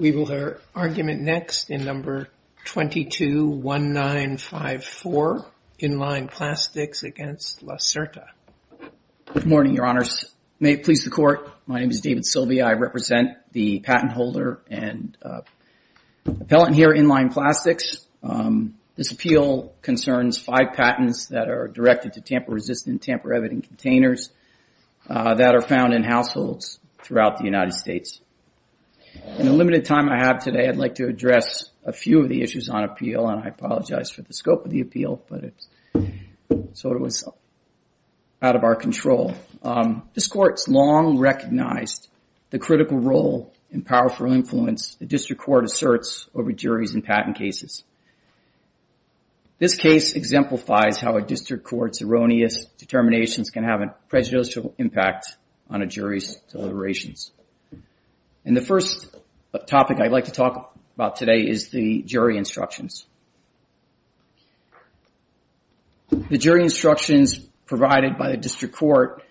We will hear argument next in No. 221954, Inline Plastics v. Lacerta. Good morning, Your Honors. May it please the Court, my name is David Silvey. I represent the patent holder and appellant here, Inline Plastics. This appeal concerns five patents that are directed to tamper-resistant, tamper-evident containers that are found in households throughout the United States. In the limited time I have today, I'd like to address a few of the issues on appeal, and I apologize for the scope of the appeal, but it's sort of out of our control. This Court has long recognized the critical role and powerful influence the District Court asserts over juries in patent cases. This case exemplifies how a District Court's erroneous determinations can have a prejudicial impact on a jury's deliberations. And the first topic I'd like to talk about today is the jury instructions. The jury instructions provided by the District Court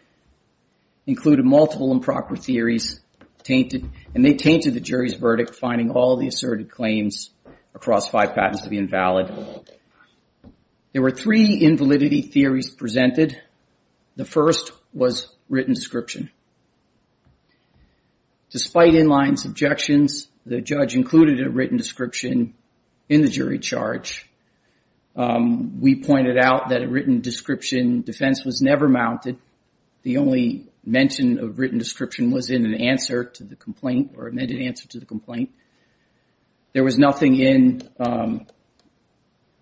included multiple improper theories, and they tainted the jury's verdict, finding all the asserted claims across five patents to be invalid. There were three invalidity theories presented. The first was written description. Despite Inline's objections, the judge included a written description in the jury charge. We pointed out that a written description defense was never mounted. The only mention of written description was in an answer to the complaint or an amended answer to the complaint. There was nothing in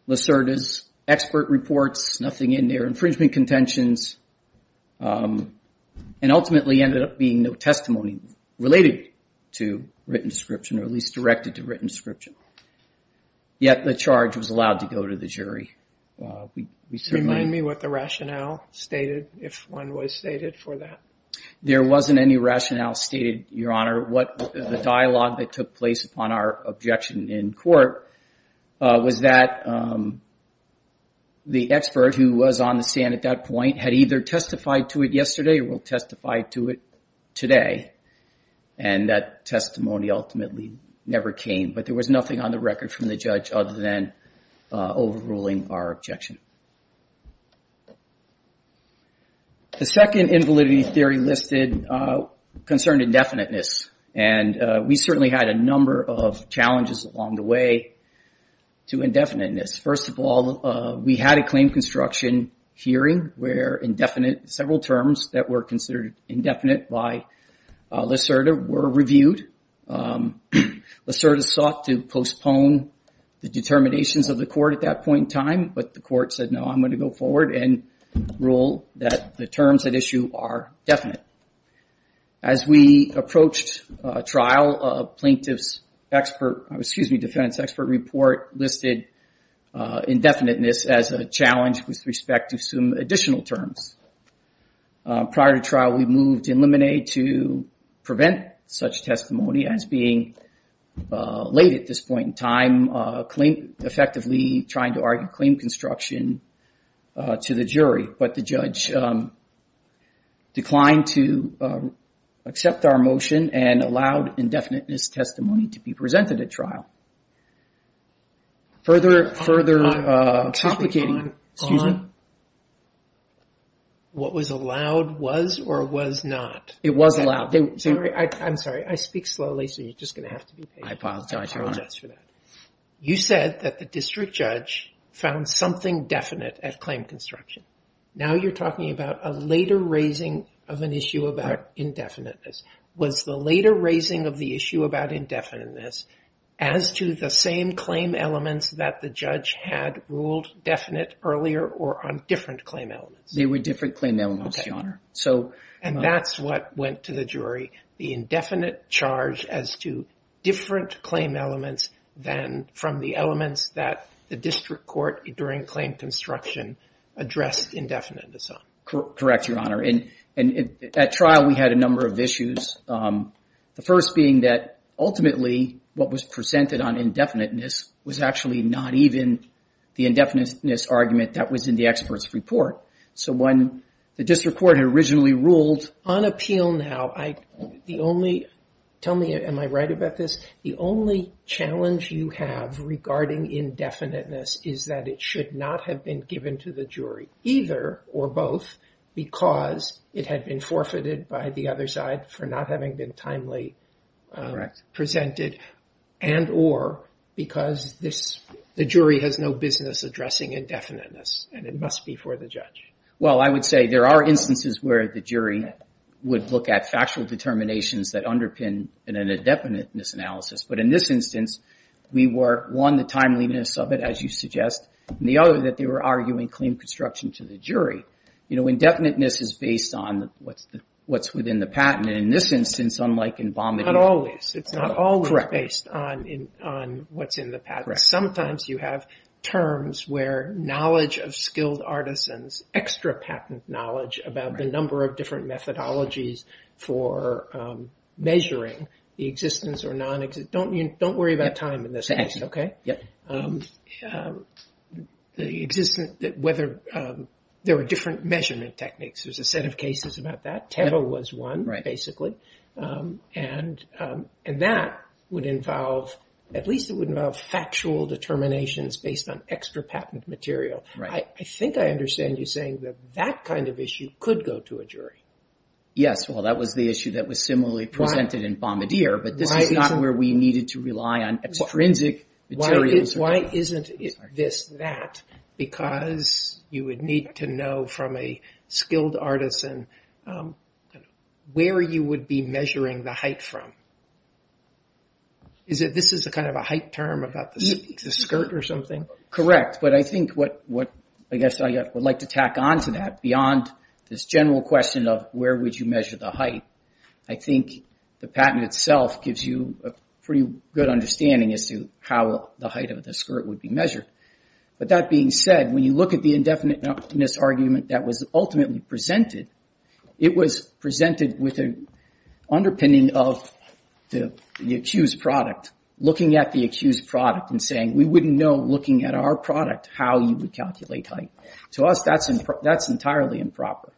Lacerda's expert reports, nothing in their infringement contentions, and ultimately ended up being no testimony related to written description or at least directed to written description. Yet the charge was allowed to go to the jury. There wasn't any rationale stated, Your Honor. The expert who was on the stand at that point had either testified to it yesterday or testified to it today, and that testimony ultimately never came, but there was nothing on the record from the judge other than overruling our objection. The second invalidity theory listed concerned indefiniteness, and we certainly had a number of challenges along the way to indefiniteness. First of all, we had a claim construction hearing where indefinite, several terms that were considered indefinite by Lacerda were reviewed. Lacerda sought to postpone the determinations of the court at that point in time, but the court said, no, I'm going to go forward and rule that the terms at issue are definite. As we approached trial, plaintiff's expert, excuse me, defendant's expert report listed indefiniteness as a challenge with respect to some additional terms. Prior to trial, we moved to eliminate to prevent such testimony as being late at this point in time, effectively trying to argue claim construction to the jury, but the judge declined to accept our motion and allowed indefiniteness testimony to be presented at trial. Further complicating, excuse me. What was allowed was or was not. I'm sorry, I speak slowly, so you're just going to have to be patient. I apologize for that. You said that the district judge found something definite at claim construction. Now you're talking about a later raising of an issue about indefiniteness. Was the later raising of the issue about indefiniteness as to the same claim elements that the judge had ruled definite earlier or on different claim elements? They were different claim elements, Your Honor. And that's what went to the jury, the indefinite charge as to different claim elements than from the elements that the district court during claim construction addressed indefiniteness on? Correct, Your Honor. At trial, we had a number of issues. The first being that ultimately what was presented on indefiniteness was actually not even the indefiniteness argument that was in the expert's report. On appeal now, tell me, am I right about this? The only challenge you have regarding indefiniteness is that it should not have been given to the jury, either or both, because it had been forfeited by the other side for not having been timely presented and or because the jury has no business addressing indefiniteness and it must be for the judge. Well, I would say there are instances where the jury would look at factual determinations that underpin an indefiniteness analysis, but in this instance, we were, one, the timeliness of it, as you suggest, and the other, that they were arguing claim construction to the jury. Indefiniteness is based on what's within the patent, and in this instance, unlike in vomiting... Not always. It's not always based on what's in the patent. Sometimes you have terms where knowledge of skilled artisans, extra patent knowledge about the number of different methodologies for measuring the existence or non-existence... Don't worry about time in this case, okay? Whether there were different measurement techniques, there's a set of cases about that. Teva was one, basically, and that would involve... At least it would involve factual determinations based on extra patent material. I think I understand you saying that that kind of issue could go to a jury. Yes, well, that was the issue that was similarly presented in Bombardier, but this is not where we needed to rely on extrinsic materials. Why isn't this that? Because you would need to know from a skilled artisan where you would be measuring the height from. This is kind of a height term about the skirt or something? Correct, but I think what I guess I would like to tack on to that, beyond this general question of where would you measure the height, I think the patent itself gives you a pretty good understanding as to how the height of the skirt would be measured. But that being said, when you look at the indefiniteness argument that was ultimately presented, it was presented with an underpinning of the accused product, looking at the accused product and saying, we wouldn't know, looking at our product, how you would calculate height. To us, that's entirely improper.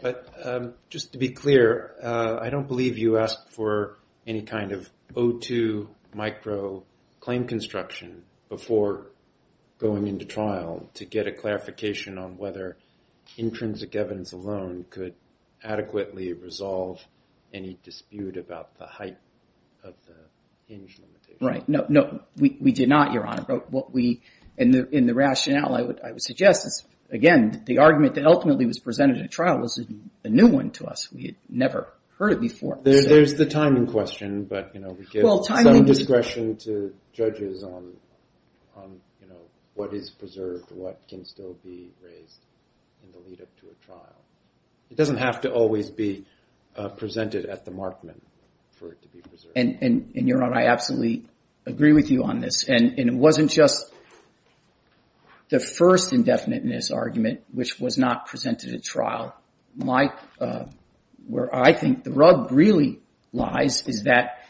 But just to be clear, I don't believe you asked for any kind of O2 micro-claim construction before going into trial to get a clarification on whether intrinsic evidence alone could adequately resolve any dispute about the height of the hinge limitation. Right. No, we did not, Your Honor. In the rationale, I would suggest, again, the argument that ultimately was presented at trial was a new one to us. We had never heard it before. There's the timing question, but we give discretion to judges on what is preserved, what can still be raised in the lead up to a trial. It doesn't have to always be presented at the markment for it to be preserved. And, Your Honor, I absolutely agree with you on this. And it wasn't just the first indefiniteness argument, which was not presented at trial. Where I think the rug really lies is that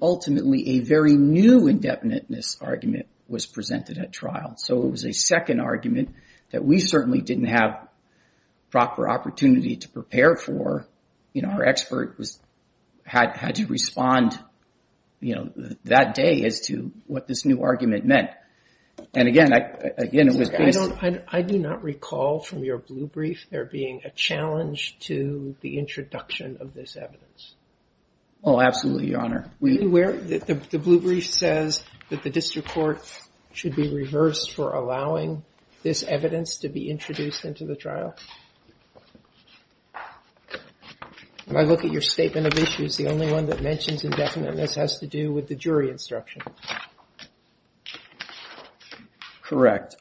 ultimately a very new indefiniteness argument was presented at trial. So it was a second argument that we certainly didn't have proper opportunity to prepare for. You know, our expert had to respond, you know, that day as to what this new argument meant. And again, I do not recall from your blue brief there being a challenge to the introduction of this evidence. Oh, absolutely, Your Honor. When I look at your statement of issues, the only one that mentions indefiniteness has to do with the jury instruction. Correct.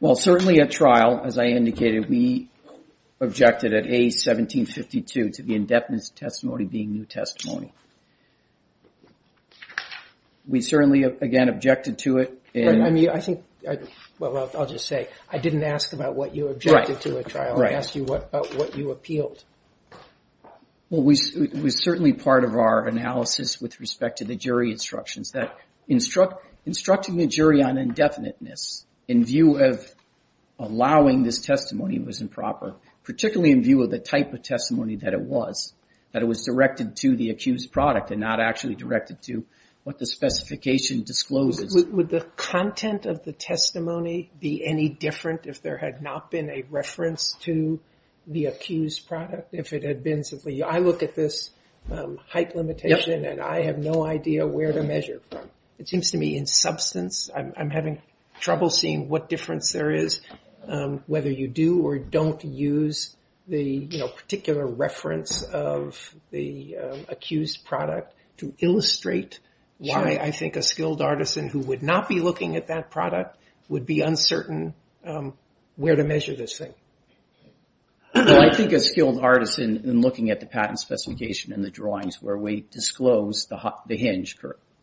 Well, certainly at trial, as I indicated, we objected at A1752 to the indefiniteness testimony being new testimony. We certainly, again, objected to it. I'll just say, I didn't ask about what you objected to at trial. I asked you about what you appealed. Well, it was certainly part of our analysis with respect to the jury instructions that instructing the jury on indefiniteness in view of allowing this testimony was improper, particularly in view of the type of testimony that it was, that it was directed to the accused product and not actually directed to what the specification discloses. Would the content of the testimony be any different if there had not been a reference to the accused product? If it had been simply, I look at this height limitation and I have no idea where to measure. It seems to me in substance, I'm having trouble seeing what difference there is, whether you do or don't use the particular reference of the accused product to illustrate why I think a skilled artisan who would not be looking at that product would be uncertain where to measure this thing. I think a skilled artisan in looking at the patent specification and the drawings where we disclose the hinge.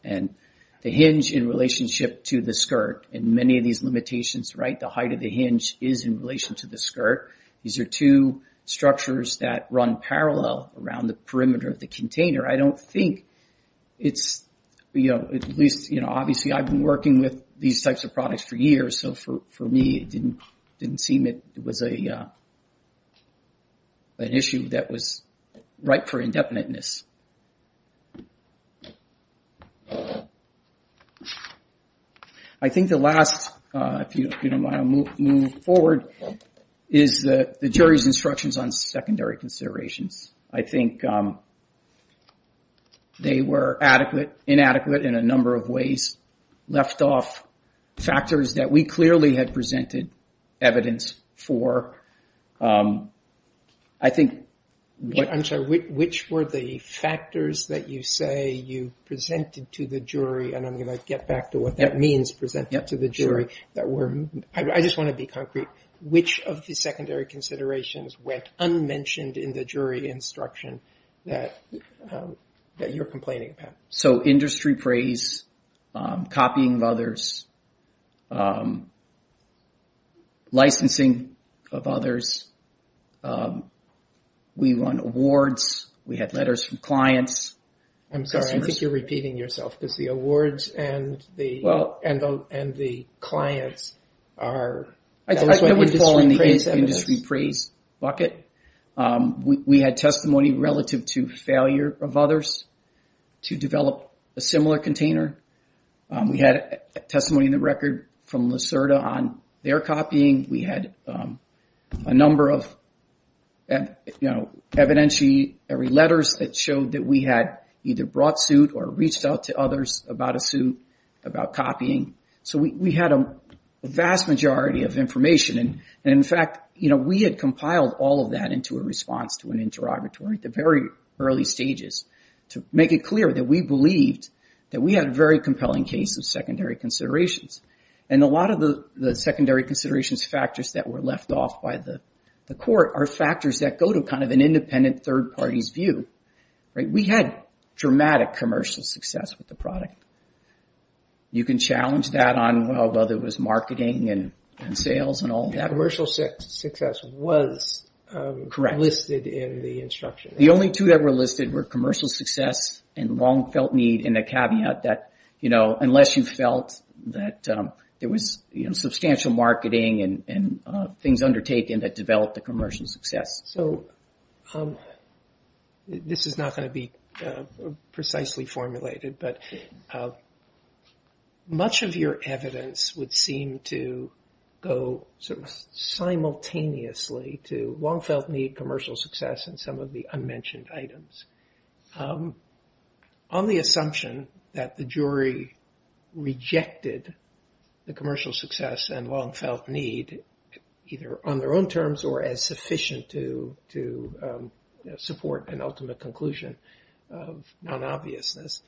The hinge in relationship to the skirt and many of these limitations, the height of the hinge is in relation to the skirt. These are two structures that run parallel around the perimeter of the container. I don't think it's, at least obviously I've been working with these types of products for years, so for me it didn't seem it was an issue that was right for indefiniteness. I think the last, if you don't mind I'll move forward, is the jury's instructions on secondary considerations. I think they were inadequate in a number of ways, left off factors that we clearly had presented evidence for. I'm sorry, which were the factors that you say you presented to the jury, and I'm going to get back to what that means, presented to the jury. I just want to be concrete. Which of the secondary considerations went unmentioned in the jury instruction that you're complaining about? So industry praise, copying of others, licensing of others. We won awards, we had letters from clients. I'm sorry, I think you're repeating yourself, because the awards and the clients are... It would fall in the industry praise bucket. We had testimony relative to failure of others to develop a similar container. We had testimony in the record from Lyserda on their copying. We had a number of evidentiary letters that showed that we had either brought suit or reached out to others about a suit, about copying. So we had a vast majority of information, and in fact, we had compiled all of that into a response to an interrogatory at the very early stages to make it clear that we believed that we had a very compelling case of secondary considerations. And a lot of the secondary considerations factors that were left off by the court are factors that go to kind of an independent third party's view. We had dramatic commercial success with the product. You can challenge that on whether it was marketing and sales and all that. Commercial success was listed in the instruction. The only two that were listed were commercial success and long felt need and a caveat that unless you felt that there was substantial marketing and things undertaken that developed a commercial success. So this is not going to be precisely formulated, but much of your evidence would seem to go sort of simultaneously to long felt need, commercial success, and some of the unmentioned items. On the assumption that the jury rejected the commercial success and long felt need, either on their own terms or as sufficient to support an ultimate conclusion of non-obviousness,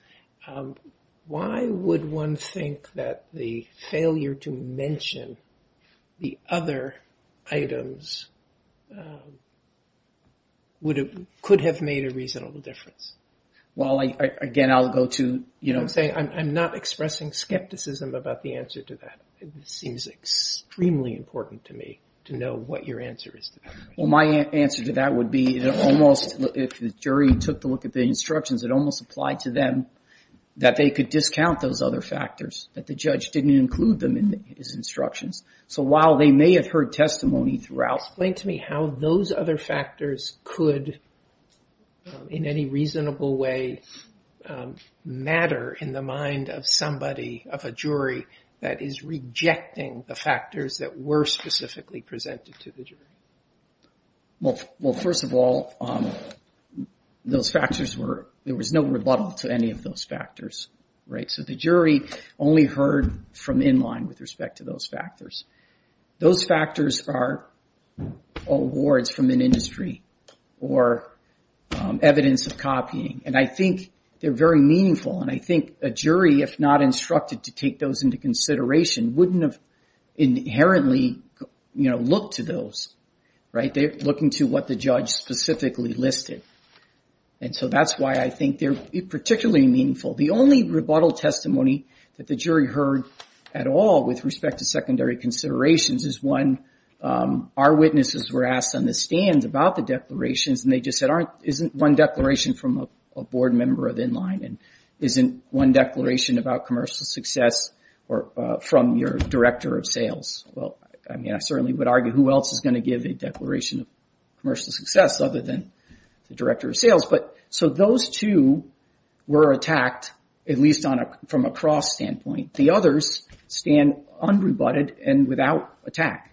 why would one think that the failure to mention the other items, could have made a reasonable difference? I'm not expressing skepticism about the answer to that. It seems extremely important to me to know what your answer is. My answer to that would be if the jury took a look at the instructions, it almost applied to them that they could discount those other factors. That the judge didn't include them in his instructions. So while they may have heard testimony throughout. Explain to me how those other factors could, in any reasonable way, matter in the mind of somebody, of a jury, that is rejecting the factors that were specifically presented to the jury. Well, first of all, those factors were, there was no rebuttal to any of those factors. So the jury only heard from in line with respect to those factors. Those factors are awards from an industry or evidence of copying. And I think they're very meaningful and I think a jury, if not instructed to take those into consideration, wouldn't have inherently looked to those. They're looking to what the judge specifically listed. And so that's why I think they're particularly meaningful. The only rebuttal testimony that the jury heard at all with respect to secondary considerations is one, our witnesses were asked on the stands about the declarations and they just said, isn't one declaration from a board member of in line and isn't one declaration about commercial success from your director of sales. Well, I mean, I certainly would argue who else is going to give a declaration of commercial success other than the director of sales. But so those two were attacked, at least from a cross standpoint. The others stand unrebutted and without attack.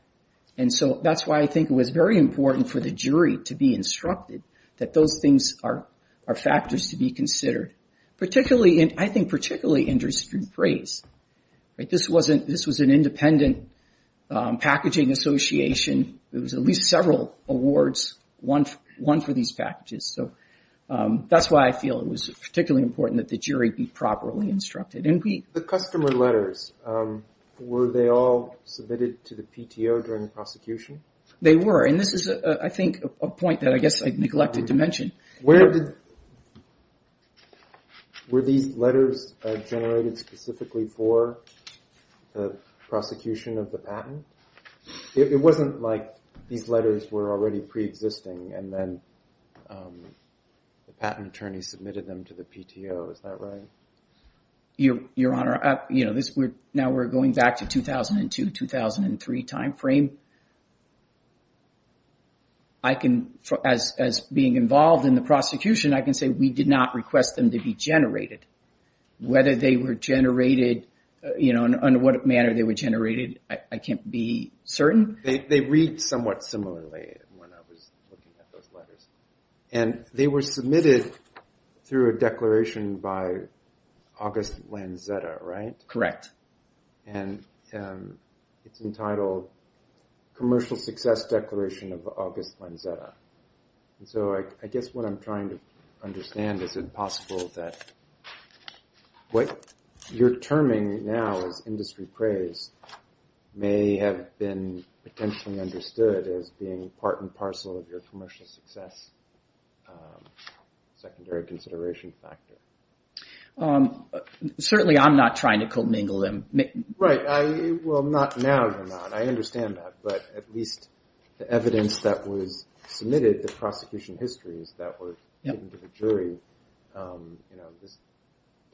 And so that's why I think it was very important for the jury to be instructed that those things are factors to be considered. Particularly, I think particularly interesting phrase. This was an independent packaging association. It was at least several awards, one for these packages. So that's why I feel it was particularly important that the jury be properly instructed. The customer letters, were they all submitted to the PTO during the prosecution? They were, and this is, I think, a point that I guess I neglected to mention. Were these letters generated specifically for the prosecution of the patent? It wasn't like these letters were already preexisting and then the patent attorney submitted them to the PTO, is that right? Your Honor, now we're going back to 2002, 2003 time frame. I can, as being involved in the prosecution, I can say we did not request them to be generated. Whether they were generated, under what manner they were generated, I can't be certain. They read somewhat similarly when I was looking at those letters. They were submitted through a declaration by August Lanzetta, right? Correct. It's entitled Commercial Success Declaration of August Lanzetta. I guess what I'm trying to understand is it possible that what you're terming now as industry praise may have been potentially understood as being part and parcel of your commercial success, secondary consideration factor. Certainly I'm not trying to commingle them. Right, well not now you're not. I understand that, but at least the evidence that was submitted, the prosecution histories that were given to the jury, this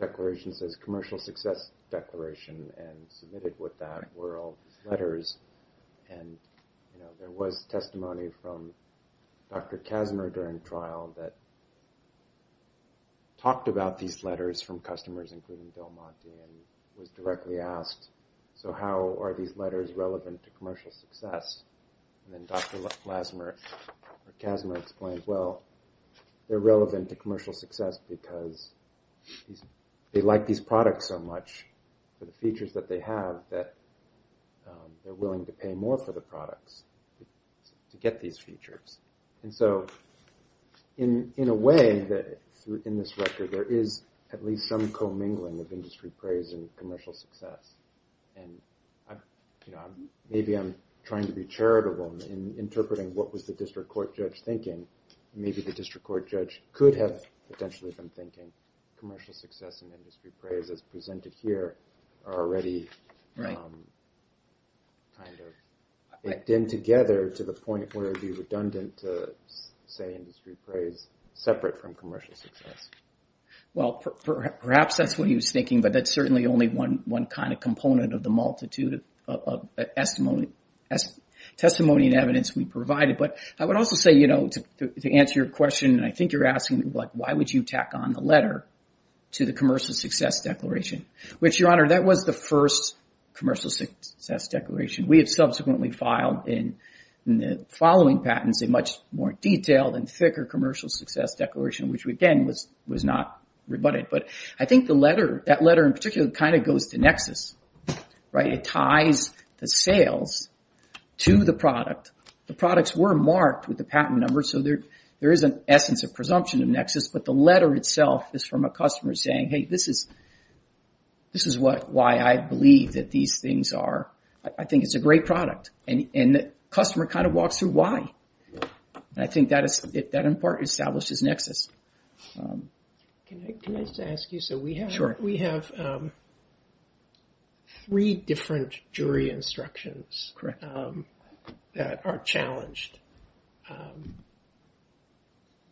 declaration says commercial success declaration and submitted with that were all these letters. There was testimony from Dr. Kazimer during trial that talked about these letters from customers, including Bill Monte and was directly asked, so how are these letters relevant to commercial success? Then Dr. Kazimer explained, well, they're relevant to commercial success because they like these products so much for the features that they have that they're willing to pay more for the products to get these features. In a way, in this record, there is at least some commingling of industry praise and commercial success. Maybe I'm trying to be charitable in interpreting what was the district court judge thinking. Maybe the district court judge could have potentially been thinking commercial success and industry praise as presented here are already kind of in together to the point where it would be redundant to say industry praise separate from commercial success. Perhaps that's what he was thinking, but that's certainly only one kind of component of the multitude of testimony and evidence we provided. I would also say, to answer your question, I think you're asking, why would you tack on the letter to the commercial success declaration? Your Honor, that was the first commercial success declaration. We have subsequently filed, in the following patents, a much more detailed and thicker commercial success declaration, which again was not rebutted. I think that letter in particular kind of goes to Nexus. It ties the sales to the product. The products were marked with the patent number, so there is an essence of presumption of Nexus, but the letter itself is from a customer saying, hey, this is why I believe that these things are. I think it's a great product. And the customer kind of walks through why. I think that in part establishes Nexus. Can I just ask you, so we have three different jury instructions that are challenged.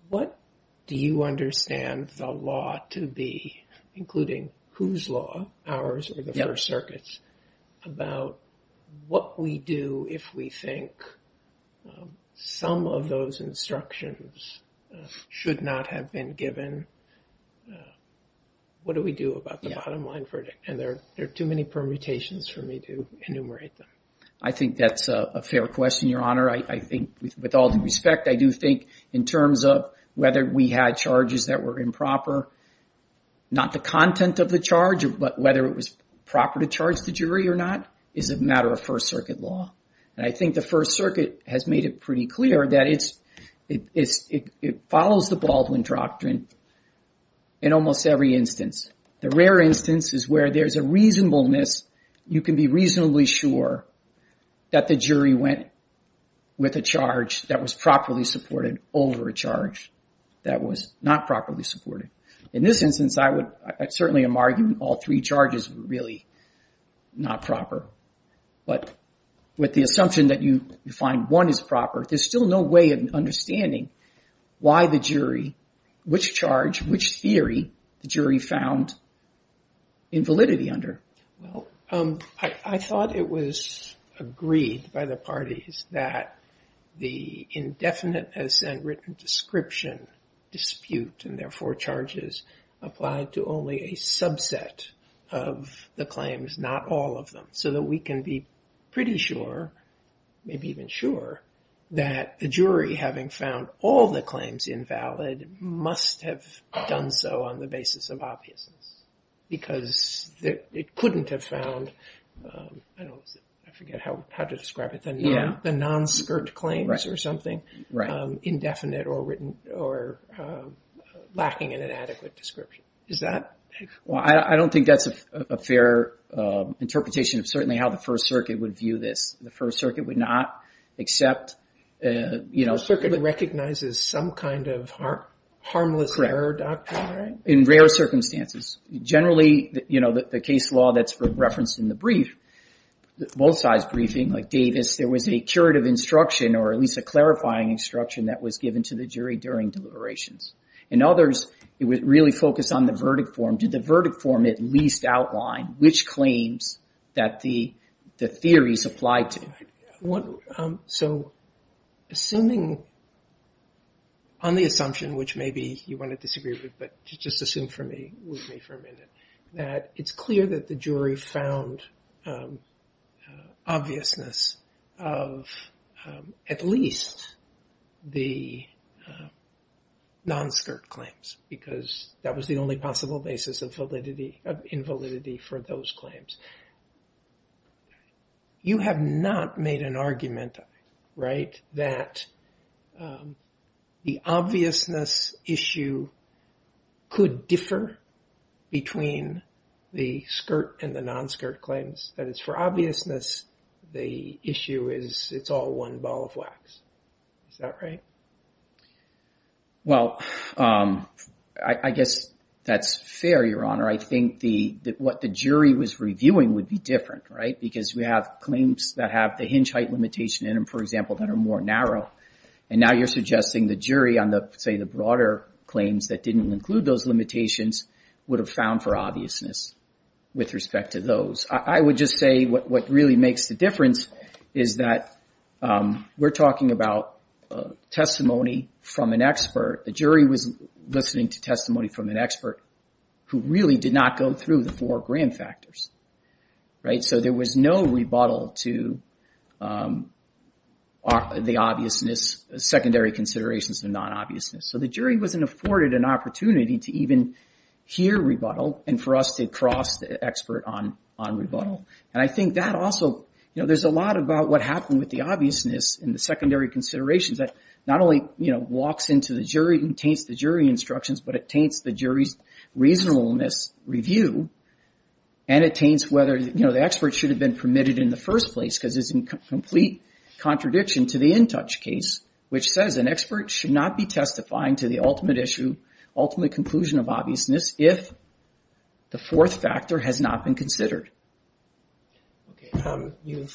What do you understand the law to be, including whose law, ours or the First Circuit's, about what we do if we think some of those instructions should not have been given? What do we do about the bottom line verdict? And there are too many permutations for me to enumerate them. I think that's a fair question, Your Honor. I think with all due respect, I do think in terms of whether we had charges that were improper, not the content of the charge, but whether it was proper to charge the jury or not, is a matter of First Circuit law. And I think the First Circuit has made it pretty clear that it follows the Baldwin Doctrine in almost every instance. The rare instance is where there's a reasonableness. You can be reasonably sure that the jury went with a charge that was properly supported over a charge that was not properly supported. In this instance, I certainly am arguing all three charges were really not proper. But with the assumption that you find one is proper, there's still no way of understanding why the jury, which charge, which theory the jury found invalidity under. Well, I thought it was agreed by the parties that the indefinite ascent written description dispute and therefore charges applied to only a subset of the claims, not all of them, so that we can be pretty sure, maybe even sure, that the jury, having found all the claims invalid, must have done so on the basis of obviousness, because it couldn't have found, I forget how to describe it, the non-skirt claims or something indefinite or lacking in an adequate description. Is that? Well, I don't think that's a fair interpretation of certainly how the First Circuit would view this. The First Circuit would not accept... The First Circuit recognizes some kind of harmless error doctrine, right? In rare circumstances. Generally, you know, the case law that's referenced in the brief, both sides briefing, like Davis, there was a curative instruction or at least a clarifying instruction that was given to the jury during deliberations. In others, it was really focused on the verdict form. Did the verdict form at least outline which claims that the theories apply to? So, assuming, on the assumption, which maybe you want to disagree with, but just assume for me, with me for a minute, that it's clear that the jury found obviousness of at least the non-skirt claims, because that was the only possible basis of validity, of invalidity for those claims. You have not made an argument, right, that the obviousness issue could differ between the skirt and the non-skirt claims. That is, for obviousness, the issue is it's all one ball of wax. Is that right? Well, I guess that's fair, Your Honor. I think that what the jury was reviewing would be different, right? Because we have claims that have the hinge height limitation in them, for example, that are more narrow. And now you're suggesting the jury on the, say, the broader claims that didn't include those limitations would have found for obviousness with respect to those. I would just say what really makes the difference is that we're talking about testimony from an expert. The jury was listening to testimony from an expert who really did not go through the four grand factors, right? So, there was no rebuttal to the obviousness, secondary considerations of non-obviousness. So, the jury wasn't afforded an opportunity to even hear rebuttal and for us to hear the expert on rebuttal. And I think that also, you know, there's a lot about what happened with the obviousness in the secondary considerations that not only, you know, walks into the jury and taints the jury instructions, but it taints the jury's reasonableness review and it taints whether, you know, the expert should have been permitted in the first place because it's in complete contradiction to the in-touch case which says an expert should not be testifying to the ultimate issue, ultimate conclusion of obviousness if the fourth factor has not been considered. Thank you.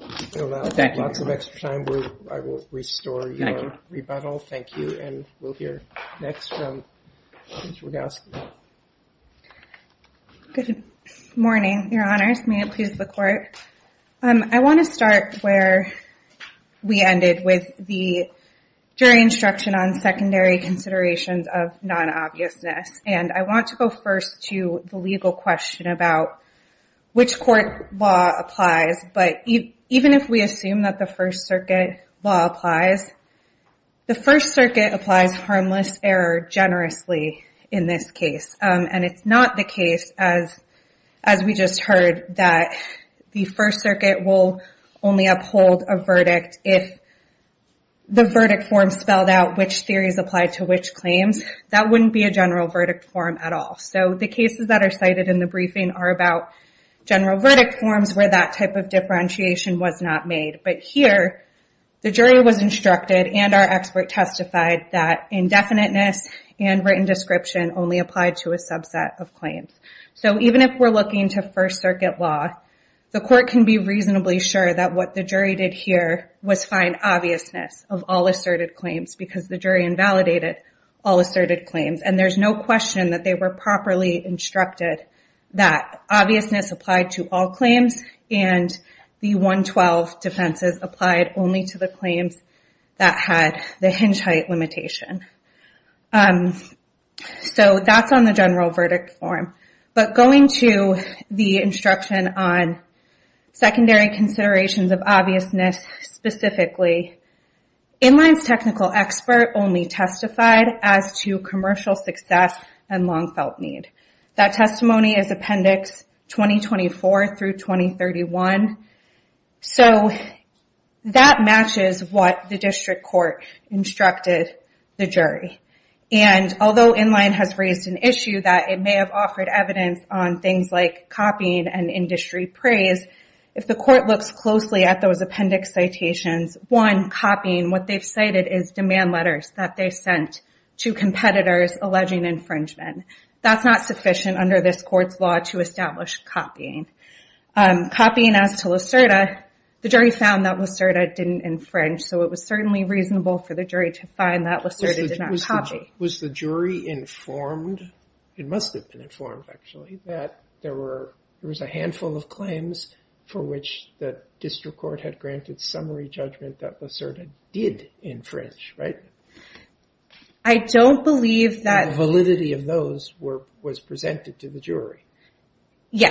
Lots of extra time. I will restore your rebuttal. Thank you. And we'll hear next from Judge Rogowski. Good morning, your honors. May it please the court. I want to start where we ended with the jury instruction on secondary considerations of non-obviousness. And I want to go first to the legal question about which court law applies. But even if we assume that the First Circuit law applies, the First Circuit applies harmless error generously in this case. And it's not the case, as we just heard, that the First Circuit will only uphold a verdict if the verdict form spelled out which theories apply to which claims. That wouldn't be a general verdict form at all. So the cases that are cited in the briefing are about general verdict forms where that type of differentiation was not made. But here the jury was instructed and our expert testified that indefiniteness and written description only applied to a subset of claims. So even if we're looking to First Circuit law, the court can be reasonably sure that what the jury did here was find obviousness of all asserted claims because the jury invalidated all asserted claims. And there's no question that they were properly instructed that obviousness applied to all claims and the 112 defenses applied only to the claims that had the hinge height limitation. So that's on the general verdict form. But going to the instruction on secondary considerations of obviousness specifically, Inline's technical expert only testified as to commercial success and long felt need. That testimony is Appendix 2024 through 2031. So that matches what the district court instructed the jury. And although Inline has raised an issue that it may have offered evidence on things like copying and industry praise, if the court looks closely at those appendix citations, one, copying, what they've cited is demand letters that they sent to competitors alleging infringement. That's not sufficient under this court's law to establish copying. Copying as to Lucerda, the jury found that Lucerda didn't infringe so it was certainly reasonable for the jury to find that Lucerda did not copy. There was a handful of claims for which the district court had granted summary judgment that Lucerda did infringe, right? I don't believe that validity of those was presented to the jury. So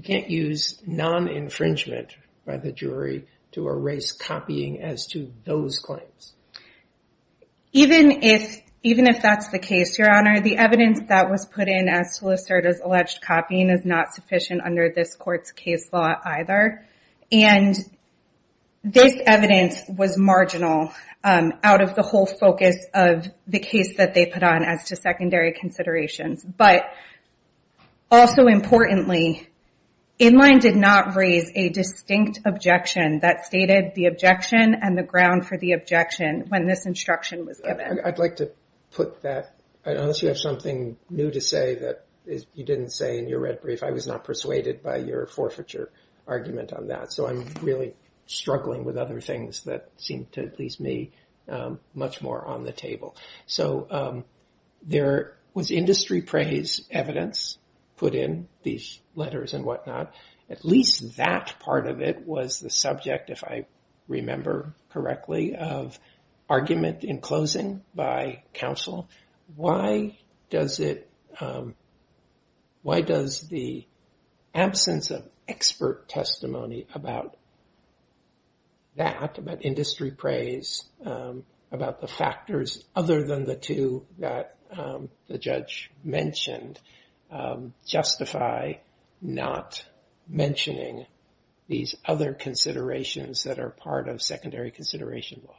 you can't use non-infringement by the jury to erase that. I don't believe that that's the case, Your Honor. The evidence that was put in as to Lucerda's alleged copying is not sufficient under this court's case law either. And this evidence was marginal out of the whole focus of the case that they put on as to secondary considerations. But also importantly, Inline did not raise a distinct objection that stated the jury did not have the right to infringe. So I don't support that. Unless you have something new to say that you didn't say in your red brief, I was not persuaded by your forfeiture argument on that. So I'm really struggling with other things that seem to please me much more on the table. So there was industry praise evidence put in these letters and whatnot. At least that part of it was the subject, if I remember correctly, of argument in closing by counsel. Why does the absence of expert testimony about that, about industry praise, about the factors other than the two that the judge mentioned, justify not mentioning these other considerations that are part of secondary consideration law?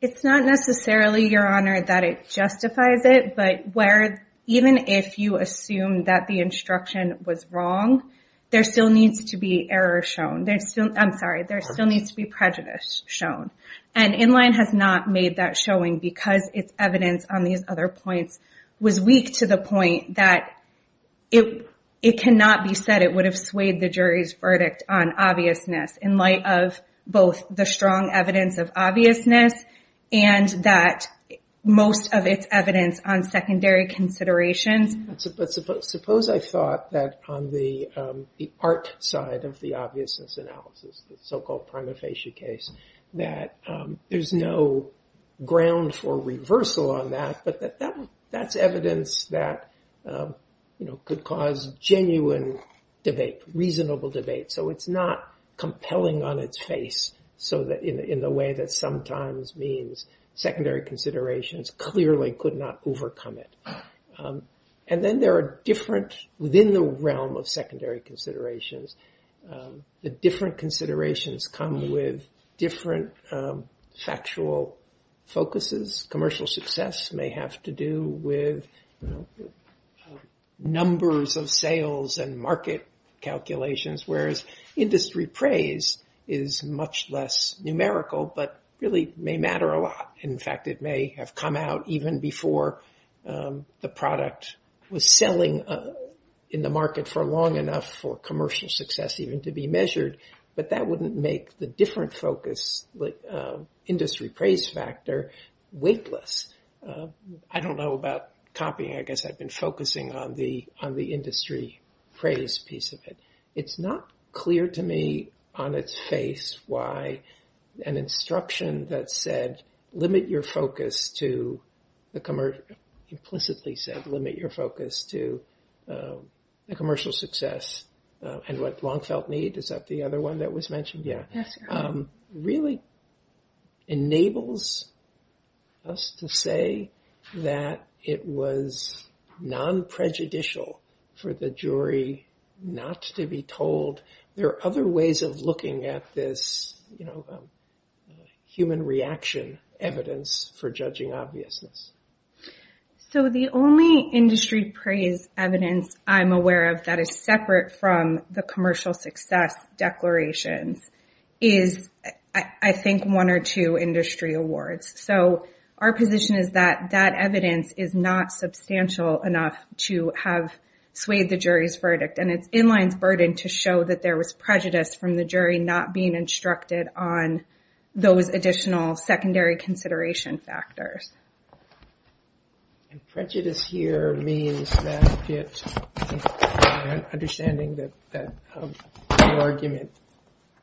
It's not necessarily, Your Honor, that it justifies it. But where even if you assume that the instruction was wrong, there still needs to be error shown. I'm sorry, there still needs to be prejudice shown. And Inline has not made that showing because its evidence on these other points was weak to the point that it cannot be said it would have swayed the jury's judgment. It would have swayed the jury's verdict on obviousness in light of both the strong evidence of obviousness and that most of its evidence on secondary considerations. Suppose I thought that on the art side of the obviousness analysis, the so-called prima facie case, that there's no ground for reversal on that. But that's evidence that could cause genuine debate. That's evidence that could cause genuine debate. Reasonable debate. So it's not compelling on its face in the way that sometimes means secondary considerations clearly could not overcome it. And then there are different, within the realm of secondary considerations, the different considerations come with different factual focuses. Commercial success may have to do with numbers of sales and market calculations, whereas industry praise is much less numerical, but really may matter a lot. In fact, it may have come out even before the product was selling in the market for long enough for commercial success even to be measured. But that wouldn't make the different focus, the industry praise factor, weightless. I don't know about copying. I guess I've been focusing on the industry praise piece of it. It's not clear to me on its face why an instruction that said, limit your focus to the commercial, implicitly said, limit your focus to the commercial success and what long felt need. Is that the other one that was mentioned? Yeah. Really enables us to say that it was non-prejudicial for the jury not to be told. There are other ways of looking at this human reaction evidence for judging obviousness. So the only industry praise evidence I'm aware of that is separate from the commercial success declarations is the industry awards. So our position is that that evidence is not substantial enough to have swayed the jury's verdict. And it's in-line's burden to show that there was prejudice from the jury not being instructed on those additional secondary consideration factors. And prejudice here means that it, understanding that the argument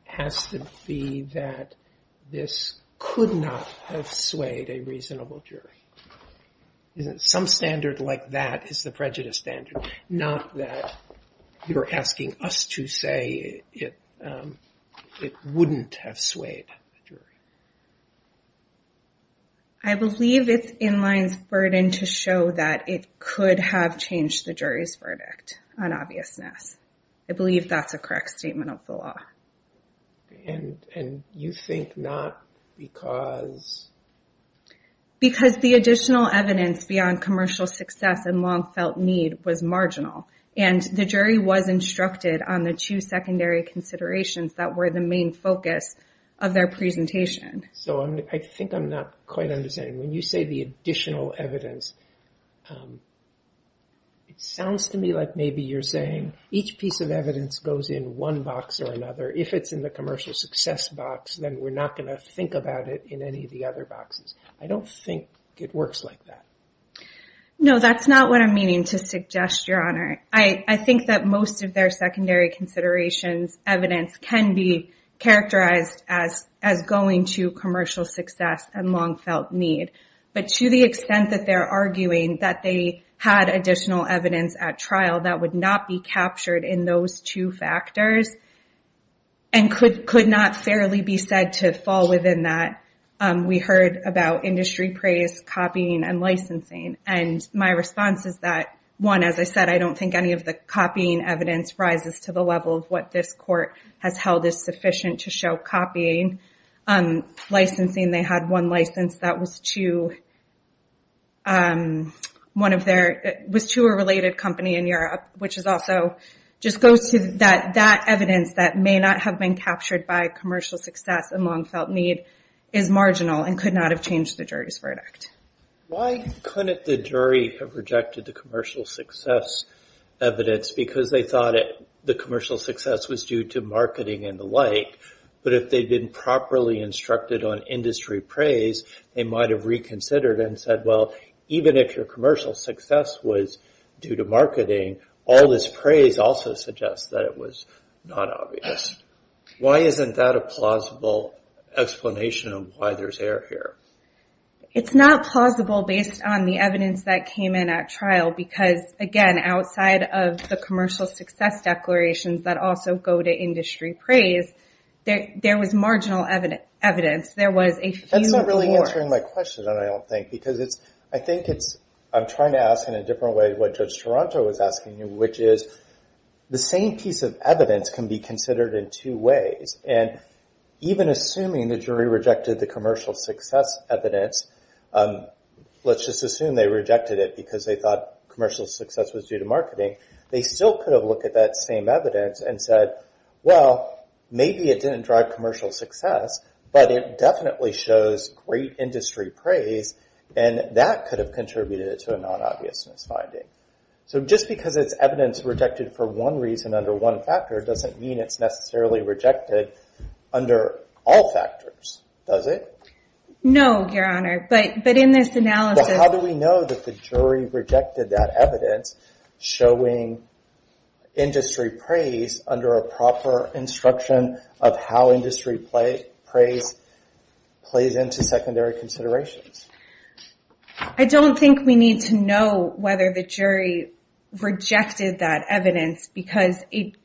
has to be that this could not have swayed a reasonable jury. Some standard like that is the prejudice standard. Not that you're asking us to say it wouldn't have swayed the jury. I believe it's in-line's burden to show that it could have changed the jury's verdict on obviousness. I believe that's a correct statement of the law. And you think not because? Because the additional evidence beyond commercial success and long felt need was marginal. And the jury was instructed on the two considerations. So I think I'm not quite understanding. When you say the additional evidence, it sounds to me like maybe you're saying each piece of evidence goes in one box or another. If it's in the commercial success box, then we're not going to think about it in any of the other boxes. I don't think it works like that. No, that's not what I'm meaning to suggest, Your Honor. I think that most of their secondary considerations evidence can be characterized as going to commercial success and long felt need. But to the extent that they're arguing that they had additional evidence at trial that would not be captured in those two factors and could not fairly be said to fall within that, we heard about industry praise, copying, and licensing. And my response is that, one, as I said, I don't think any of the copying evidence rises to the level of what this court has held is sufficient to show copying. Licensing, they had one license that was to a related company in Europe, which also just goes to that evidence that may not have been captured by commercial success and long felt. So I've changed the jury's verdict. Why couldn't the jury have rejected the commercial success evidence because they thought the commercial success was due to marketing and the like, but if they'd been properly instructed on industry praise, they might have reconsidered and said, well, even if your commercial success was due to marketing, all this praise also suggests that it was not obvious. Why isn't that a plausible argument? It's not plausible based on the evidence that came in at trial because, again, outside of the commercial success declarations that also go to industry praise, there was marginal evidence. There was a few more. That's not really answering my question, I don't think, because I think I'm trying to ask in a different way what Judge Toronto was asking you, which is the same piece of evidence can be considered in two ways. And even assuming the jury rejected the commercial success evidence, let's just assume they rejected it because they thought commercial success was due to marketing, they still could have looked at that same evidence and said, well, maybe it didn't drive commercial success, but it definitely shows great industry praise, and that could have contributed to a non-obvious misfinding. So just because it's evidence rejected for one reason under one factor doesn't mean it's necessarily rejected under all factors, does it? No, Your Honor, but in this analysis... But how do we know that the jury rejected that evidence showing industry praise under a proper instruction of how industry praise plays into secondary considerations? I don't think we need to know whether the jury rejected that evidence because it could have been a non-obvious misfinding.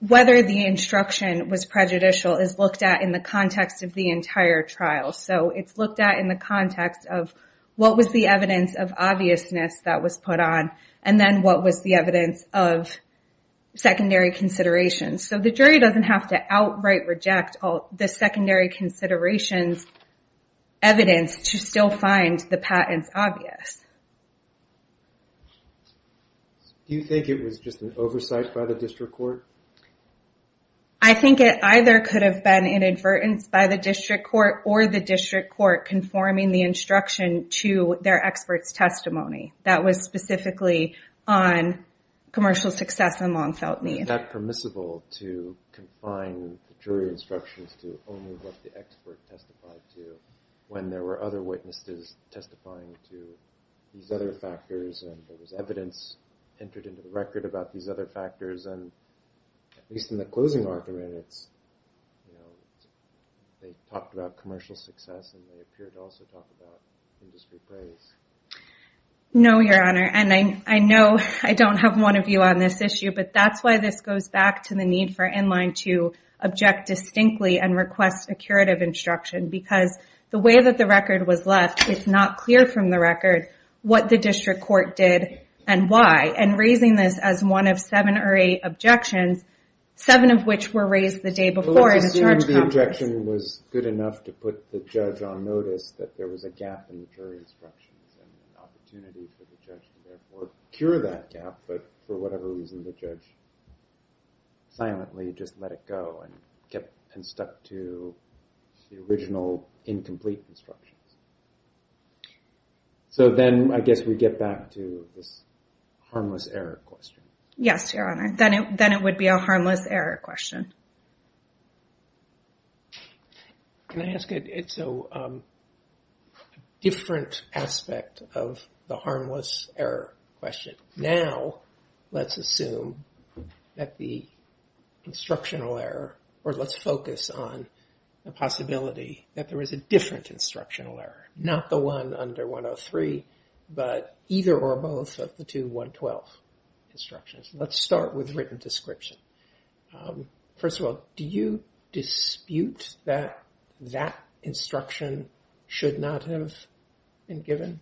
Whether the instruction was prejudicial is looked at in the context of the entire trial, so it's looked at in the context of what was the evidence of obviousness that was put on, and then what was the evidence of secondary considerations. So the jury doesn't have to outright reject the secondary considerations evidence to still find the patents obvious. Do you think it was just an oversight by the district court? I think it either could have been an inadvertence by the district court or the district court conforming the instruction to their expert's testimony. That was specifically on commercial success and long-felt need. Is that permissible to confine jury instructions to only what the expert testified to when there were other witnesses testifying to these other factors, and there was evidence entered into the record about these other factors? And at least in the closing argument, they talked about commercial success and they appeared to also talk about industry praise. No, Your Honor. And I know I don't have one of you on this issue, but that's why this goes back to the need for NLINE to object distinctly and to say that even if the record was left, it's not clear from the record what the district court did and why, and raising this as one of seven or eight objections, seven of which were raised the day before. Let's assume the objection was good enough to put the judge on notice that there was a gap in the jury instructions and an opportunity for the judge to therefore cure that gap, but for whatever reason the judge silently just let it go and stuck to the original incomplete instructions. So then I guess we get back to this harmless error question. Yes, Your Honor. Then it would be a harmless error question. Can I ask a different aspect of the harmless error question? Now let's assume that the instructional error, or let's focus on the possibility that there was a different instructional error, not the one under 103, but either or both of the two 112 instructions. Let's start with written description. First of all, do you dispute that that instruction should not have been given?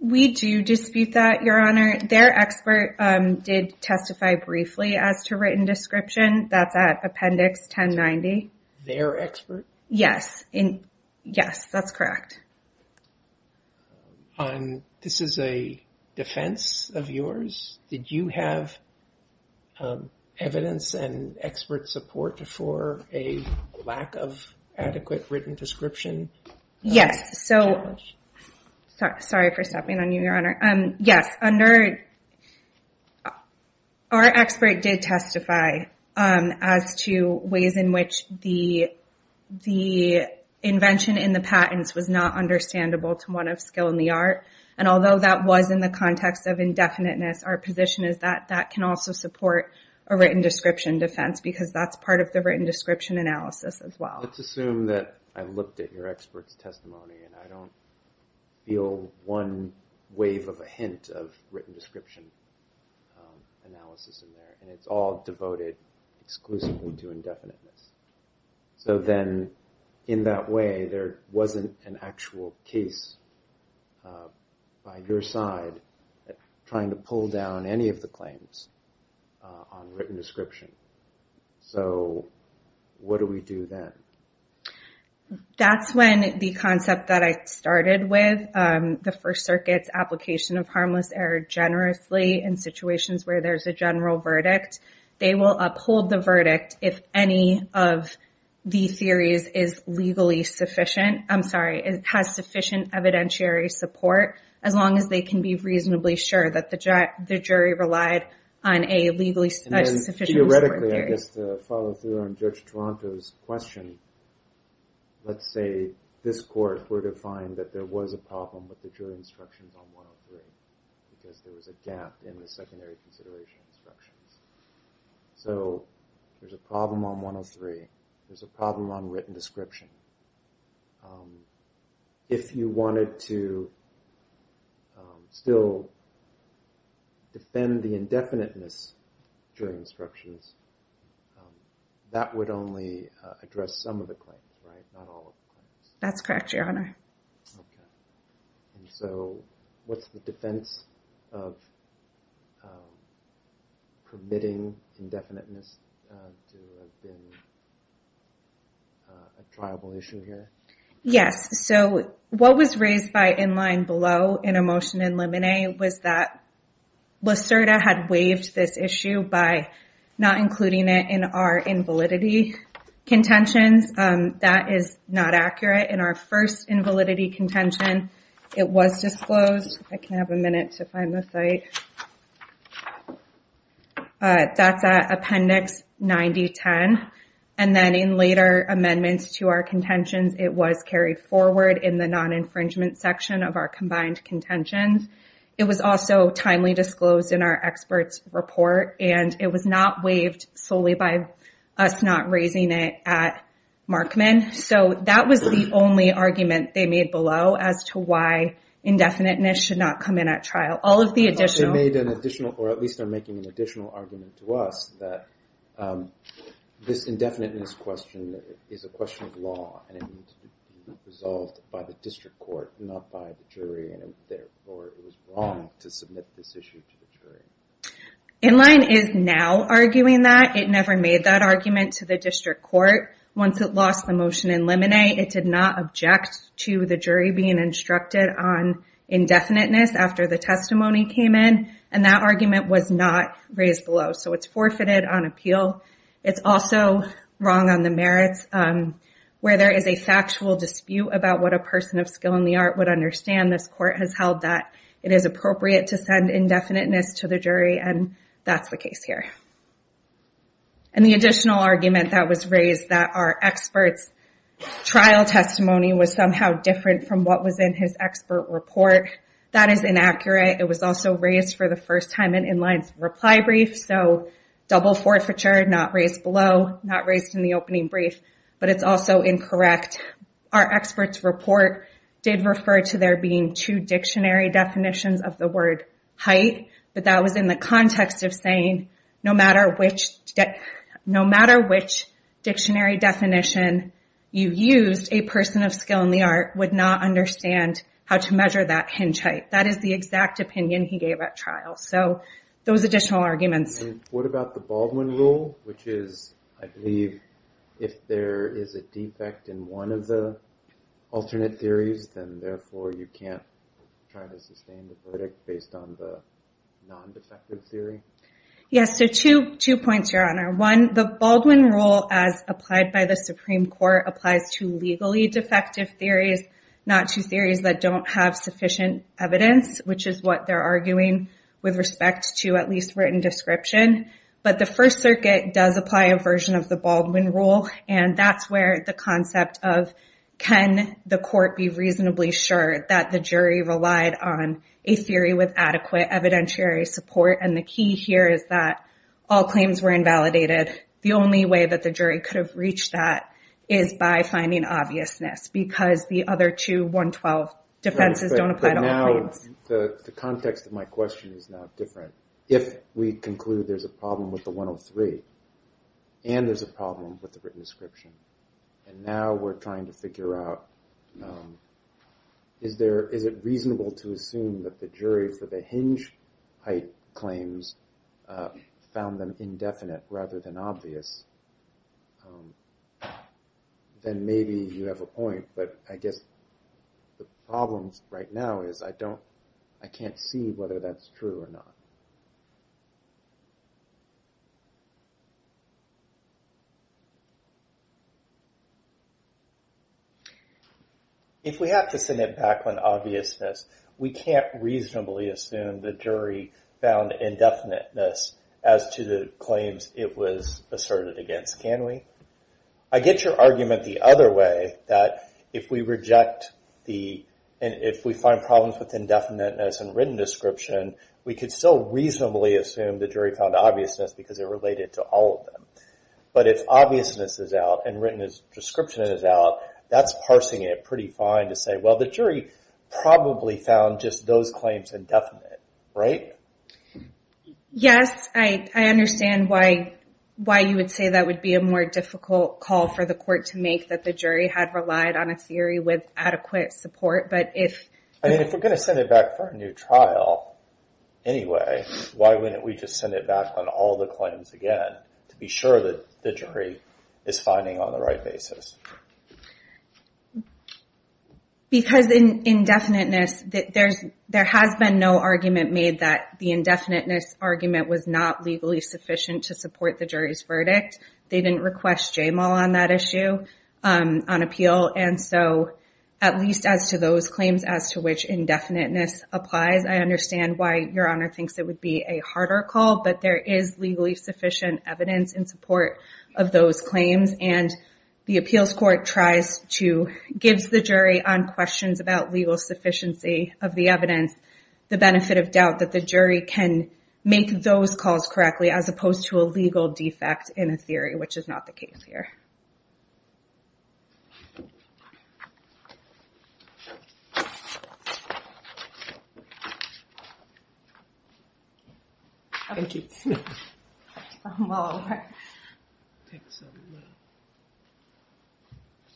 We do dispute that, Your Honor. Their expert did testify briefly as to written description. That's at appendix 1090. Their expert? Yes. Yes, that's correct. This is a defense of yours? Did you have evidence and expert support for a lack of adequate written description? Yes. Sorry for stepping on you, Your Honor. Yes. Our expert did testify as to ways in which the invention in the patents was not understandable to one of skill in the art. And although that was in the context of indefiniteness, our position is that that can also support a written description defense, because that's part of the written description analysis as well. Let's assume that I looked at your expert's testimony and I don't feel one wave of a hint of written description analysis in there, and it's all devoted exclusively to indefiniteness. That's correct. So then, in that way, there wasn't an actual case by your side trying to pull down any of the claims on written description. So what do we do then? That's when the concept that I started with, the First Circuit's application of harmless error generously in situations where there's a general verdict. They will uphold the verdict if any of the theories is legally sufficient. I'm sorry. It has sufficient evidentiary support, as long as they can be reasonably sure that the jury relied on a legally sufficient support theory. And then, theoretically, I guess to follow through on Judge Toronto's question, let's say this court were to find that there was a problem with the jury instructions on 103, because there was a gap in the secondary consideration instructions. So there's a problem on 103. There's a problem on written description. If you wanted to still defend the indefiniteness during instructions, that would only address some of the claims, right? Not all of the claims. That's correct, Your Honor. Okay. And so, what's the defense of permitting indefiniteness to have been considered? I don't know. I'm not sure. I'm not sure. Is that a triable issue here? Yes. So, what was raised by in line below in a motion in limine was that Lacerda had waived this issue by not including it in our invalidity contentions. That is not accurate. In our first invalidity contention, it was disclosed. I can have a minute to find the site. That's at appendix 9010. And then, in later amendments to our contentions, it was carried forward in the non-infringement section of our combined contentions. It was also timely disclosed in our expert's report. And it was not waived solely by us not raising it at Markman. So, that was the only argument they made below as to why indefiniteness should not come in at trial. All of the additional... They made an additional, or at least are making an additional argument to us that this indefiniteness question is a question of law. And it needs to be resolved by the district court, not by the jury. And therefore, it was wrong to submit this issue to the jury. In line is now arguing that. It never made that argument to the district court. Once it lost the motion in limine, it did not object to the jury being instructed on indefiniteness after the testimony came in. And that argument was not raised below. So, it's forfeited on appeal. It's also wrong on the merits where there is a factual dispute about what a person of skill in the art would understand. This court has held that it is appropriate to send indefiniteness to the jury. And that's the case here. And the additional argument that was raised that our expert's trial testimony was somehow different from what was in his expert report. That is inaccurate. It was also raised for the first time in in line's reply brief. So, double forward forfeiture, not raised below, not raised in the opening brief. But it's also incorrect. Our expert's report did refer to there being two dictionary definitions of the word height. But that was in the context of saying no matter which dictionary definition you used, a person of skill in the art would not understand how to measure that hinge height. That is the exact opinion he gave at trial. So, those additional arguments. And what about the Baldwin rule? Which is, I believe, if there is a defect in one of the alternate theories, then therefore you can't try to sustain the verdict based on the non-defective theory? Yes. So, two points, Your Honor. One, the Baldwin rule as applied by the Supreme Court applies to legally defective theories, not to theories that don't have sufficient evidence, which is what they're arguing with respect to at least written description. But the First Circuit does apply a version of the Baldwin rule. And that's where the concept of can the court be reasonably sure that the jury relied on a theory with adequate evidentiary support? And the key here is that all claims were invalidated. The only way that the jury could have reached that is by finding obviousness. Because the other two 112 defenses don't apply to all claims. The context of my question is now different. If we conclude there's a problem with the 103, and there's a problem with the written description, and now we're trying to figure out, is it reasonable to assume that the jury for the hinge height claims found them indefinite rather than obvious, then maybe you have a point. But I guess the problem right now is I can't see whether that's true or not. If we have to send it back on obviousness, we can't reasonably assume the jury found indefiniteness as to the claims it was asserted against, can we? I get your argument the other way, that if we find problems with indefiniteness and written description, we can still reasonably assume the jury found obviousness because it related to all of them. But if obviousness is out and written description is out, that's parsing it pretty fine to say, well, the jury probably found just those claims indefinite, right? Why you would say that would be a more difficult call for the court to make, that the jury had relied on a theory with adequate support, but if... I mean, if we're going to send it back for a new trial anyway, why wouldn't we just send it back on all the claims again to be sure that the jury is finding on the right basis? Because in indefiniteness, there has been no argument made that the indefiniteness argument was not legally sufficient to support the jury's verdict. They didn't request JMAL on that issue on appeal. And so, at least as to those claims as to which indefiniteness applies, I understand why your Honor thinks it would be a harder call, but there is legally sufficient evidence in support of those claims. And the appeals court tries to... gives the jury on questions about legal sufficiency of the evidence the benefit of doubt that the jury can make those calls correctly as opposed to a legal defect in a theory, which is not the case here. Thank you.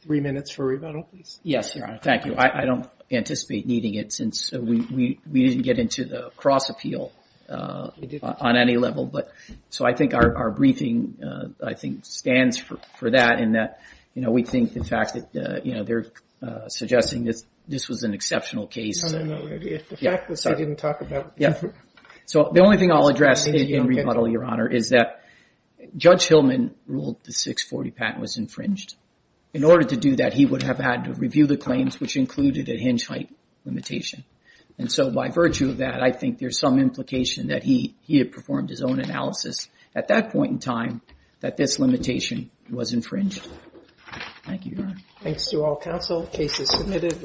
Three minutes for rebuttal, please. Yes, Your Honor. Thank you. I don't anticipate needing it since we didn't get into the cross appeal on any level. So I think our briefing, I think, stands for that in that we think the fact that they're suggesting this was an exceptional case. So the only thing I'll address in rebuttal, Your Honor, is that Judge Hillman ruled the 640 patent was infringed. In order to do that, he would have had to review the claims, which included a hinge height limitation. And so by virtue of that, I think there's some implication that he had performed his own analysis at that point in time that this limitation was infringed. Thank you, Your Honor.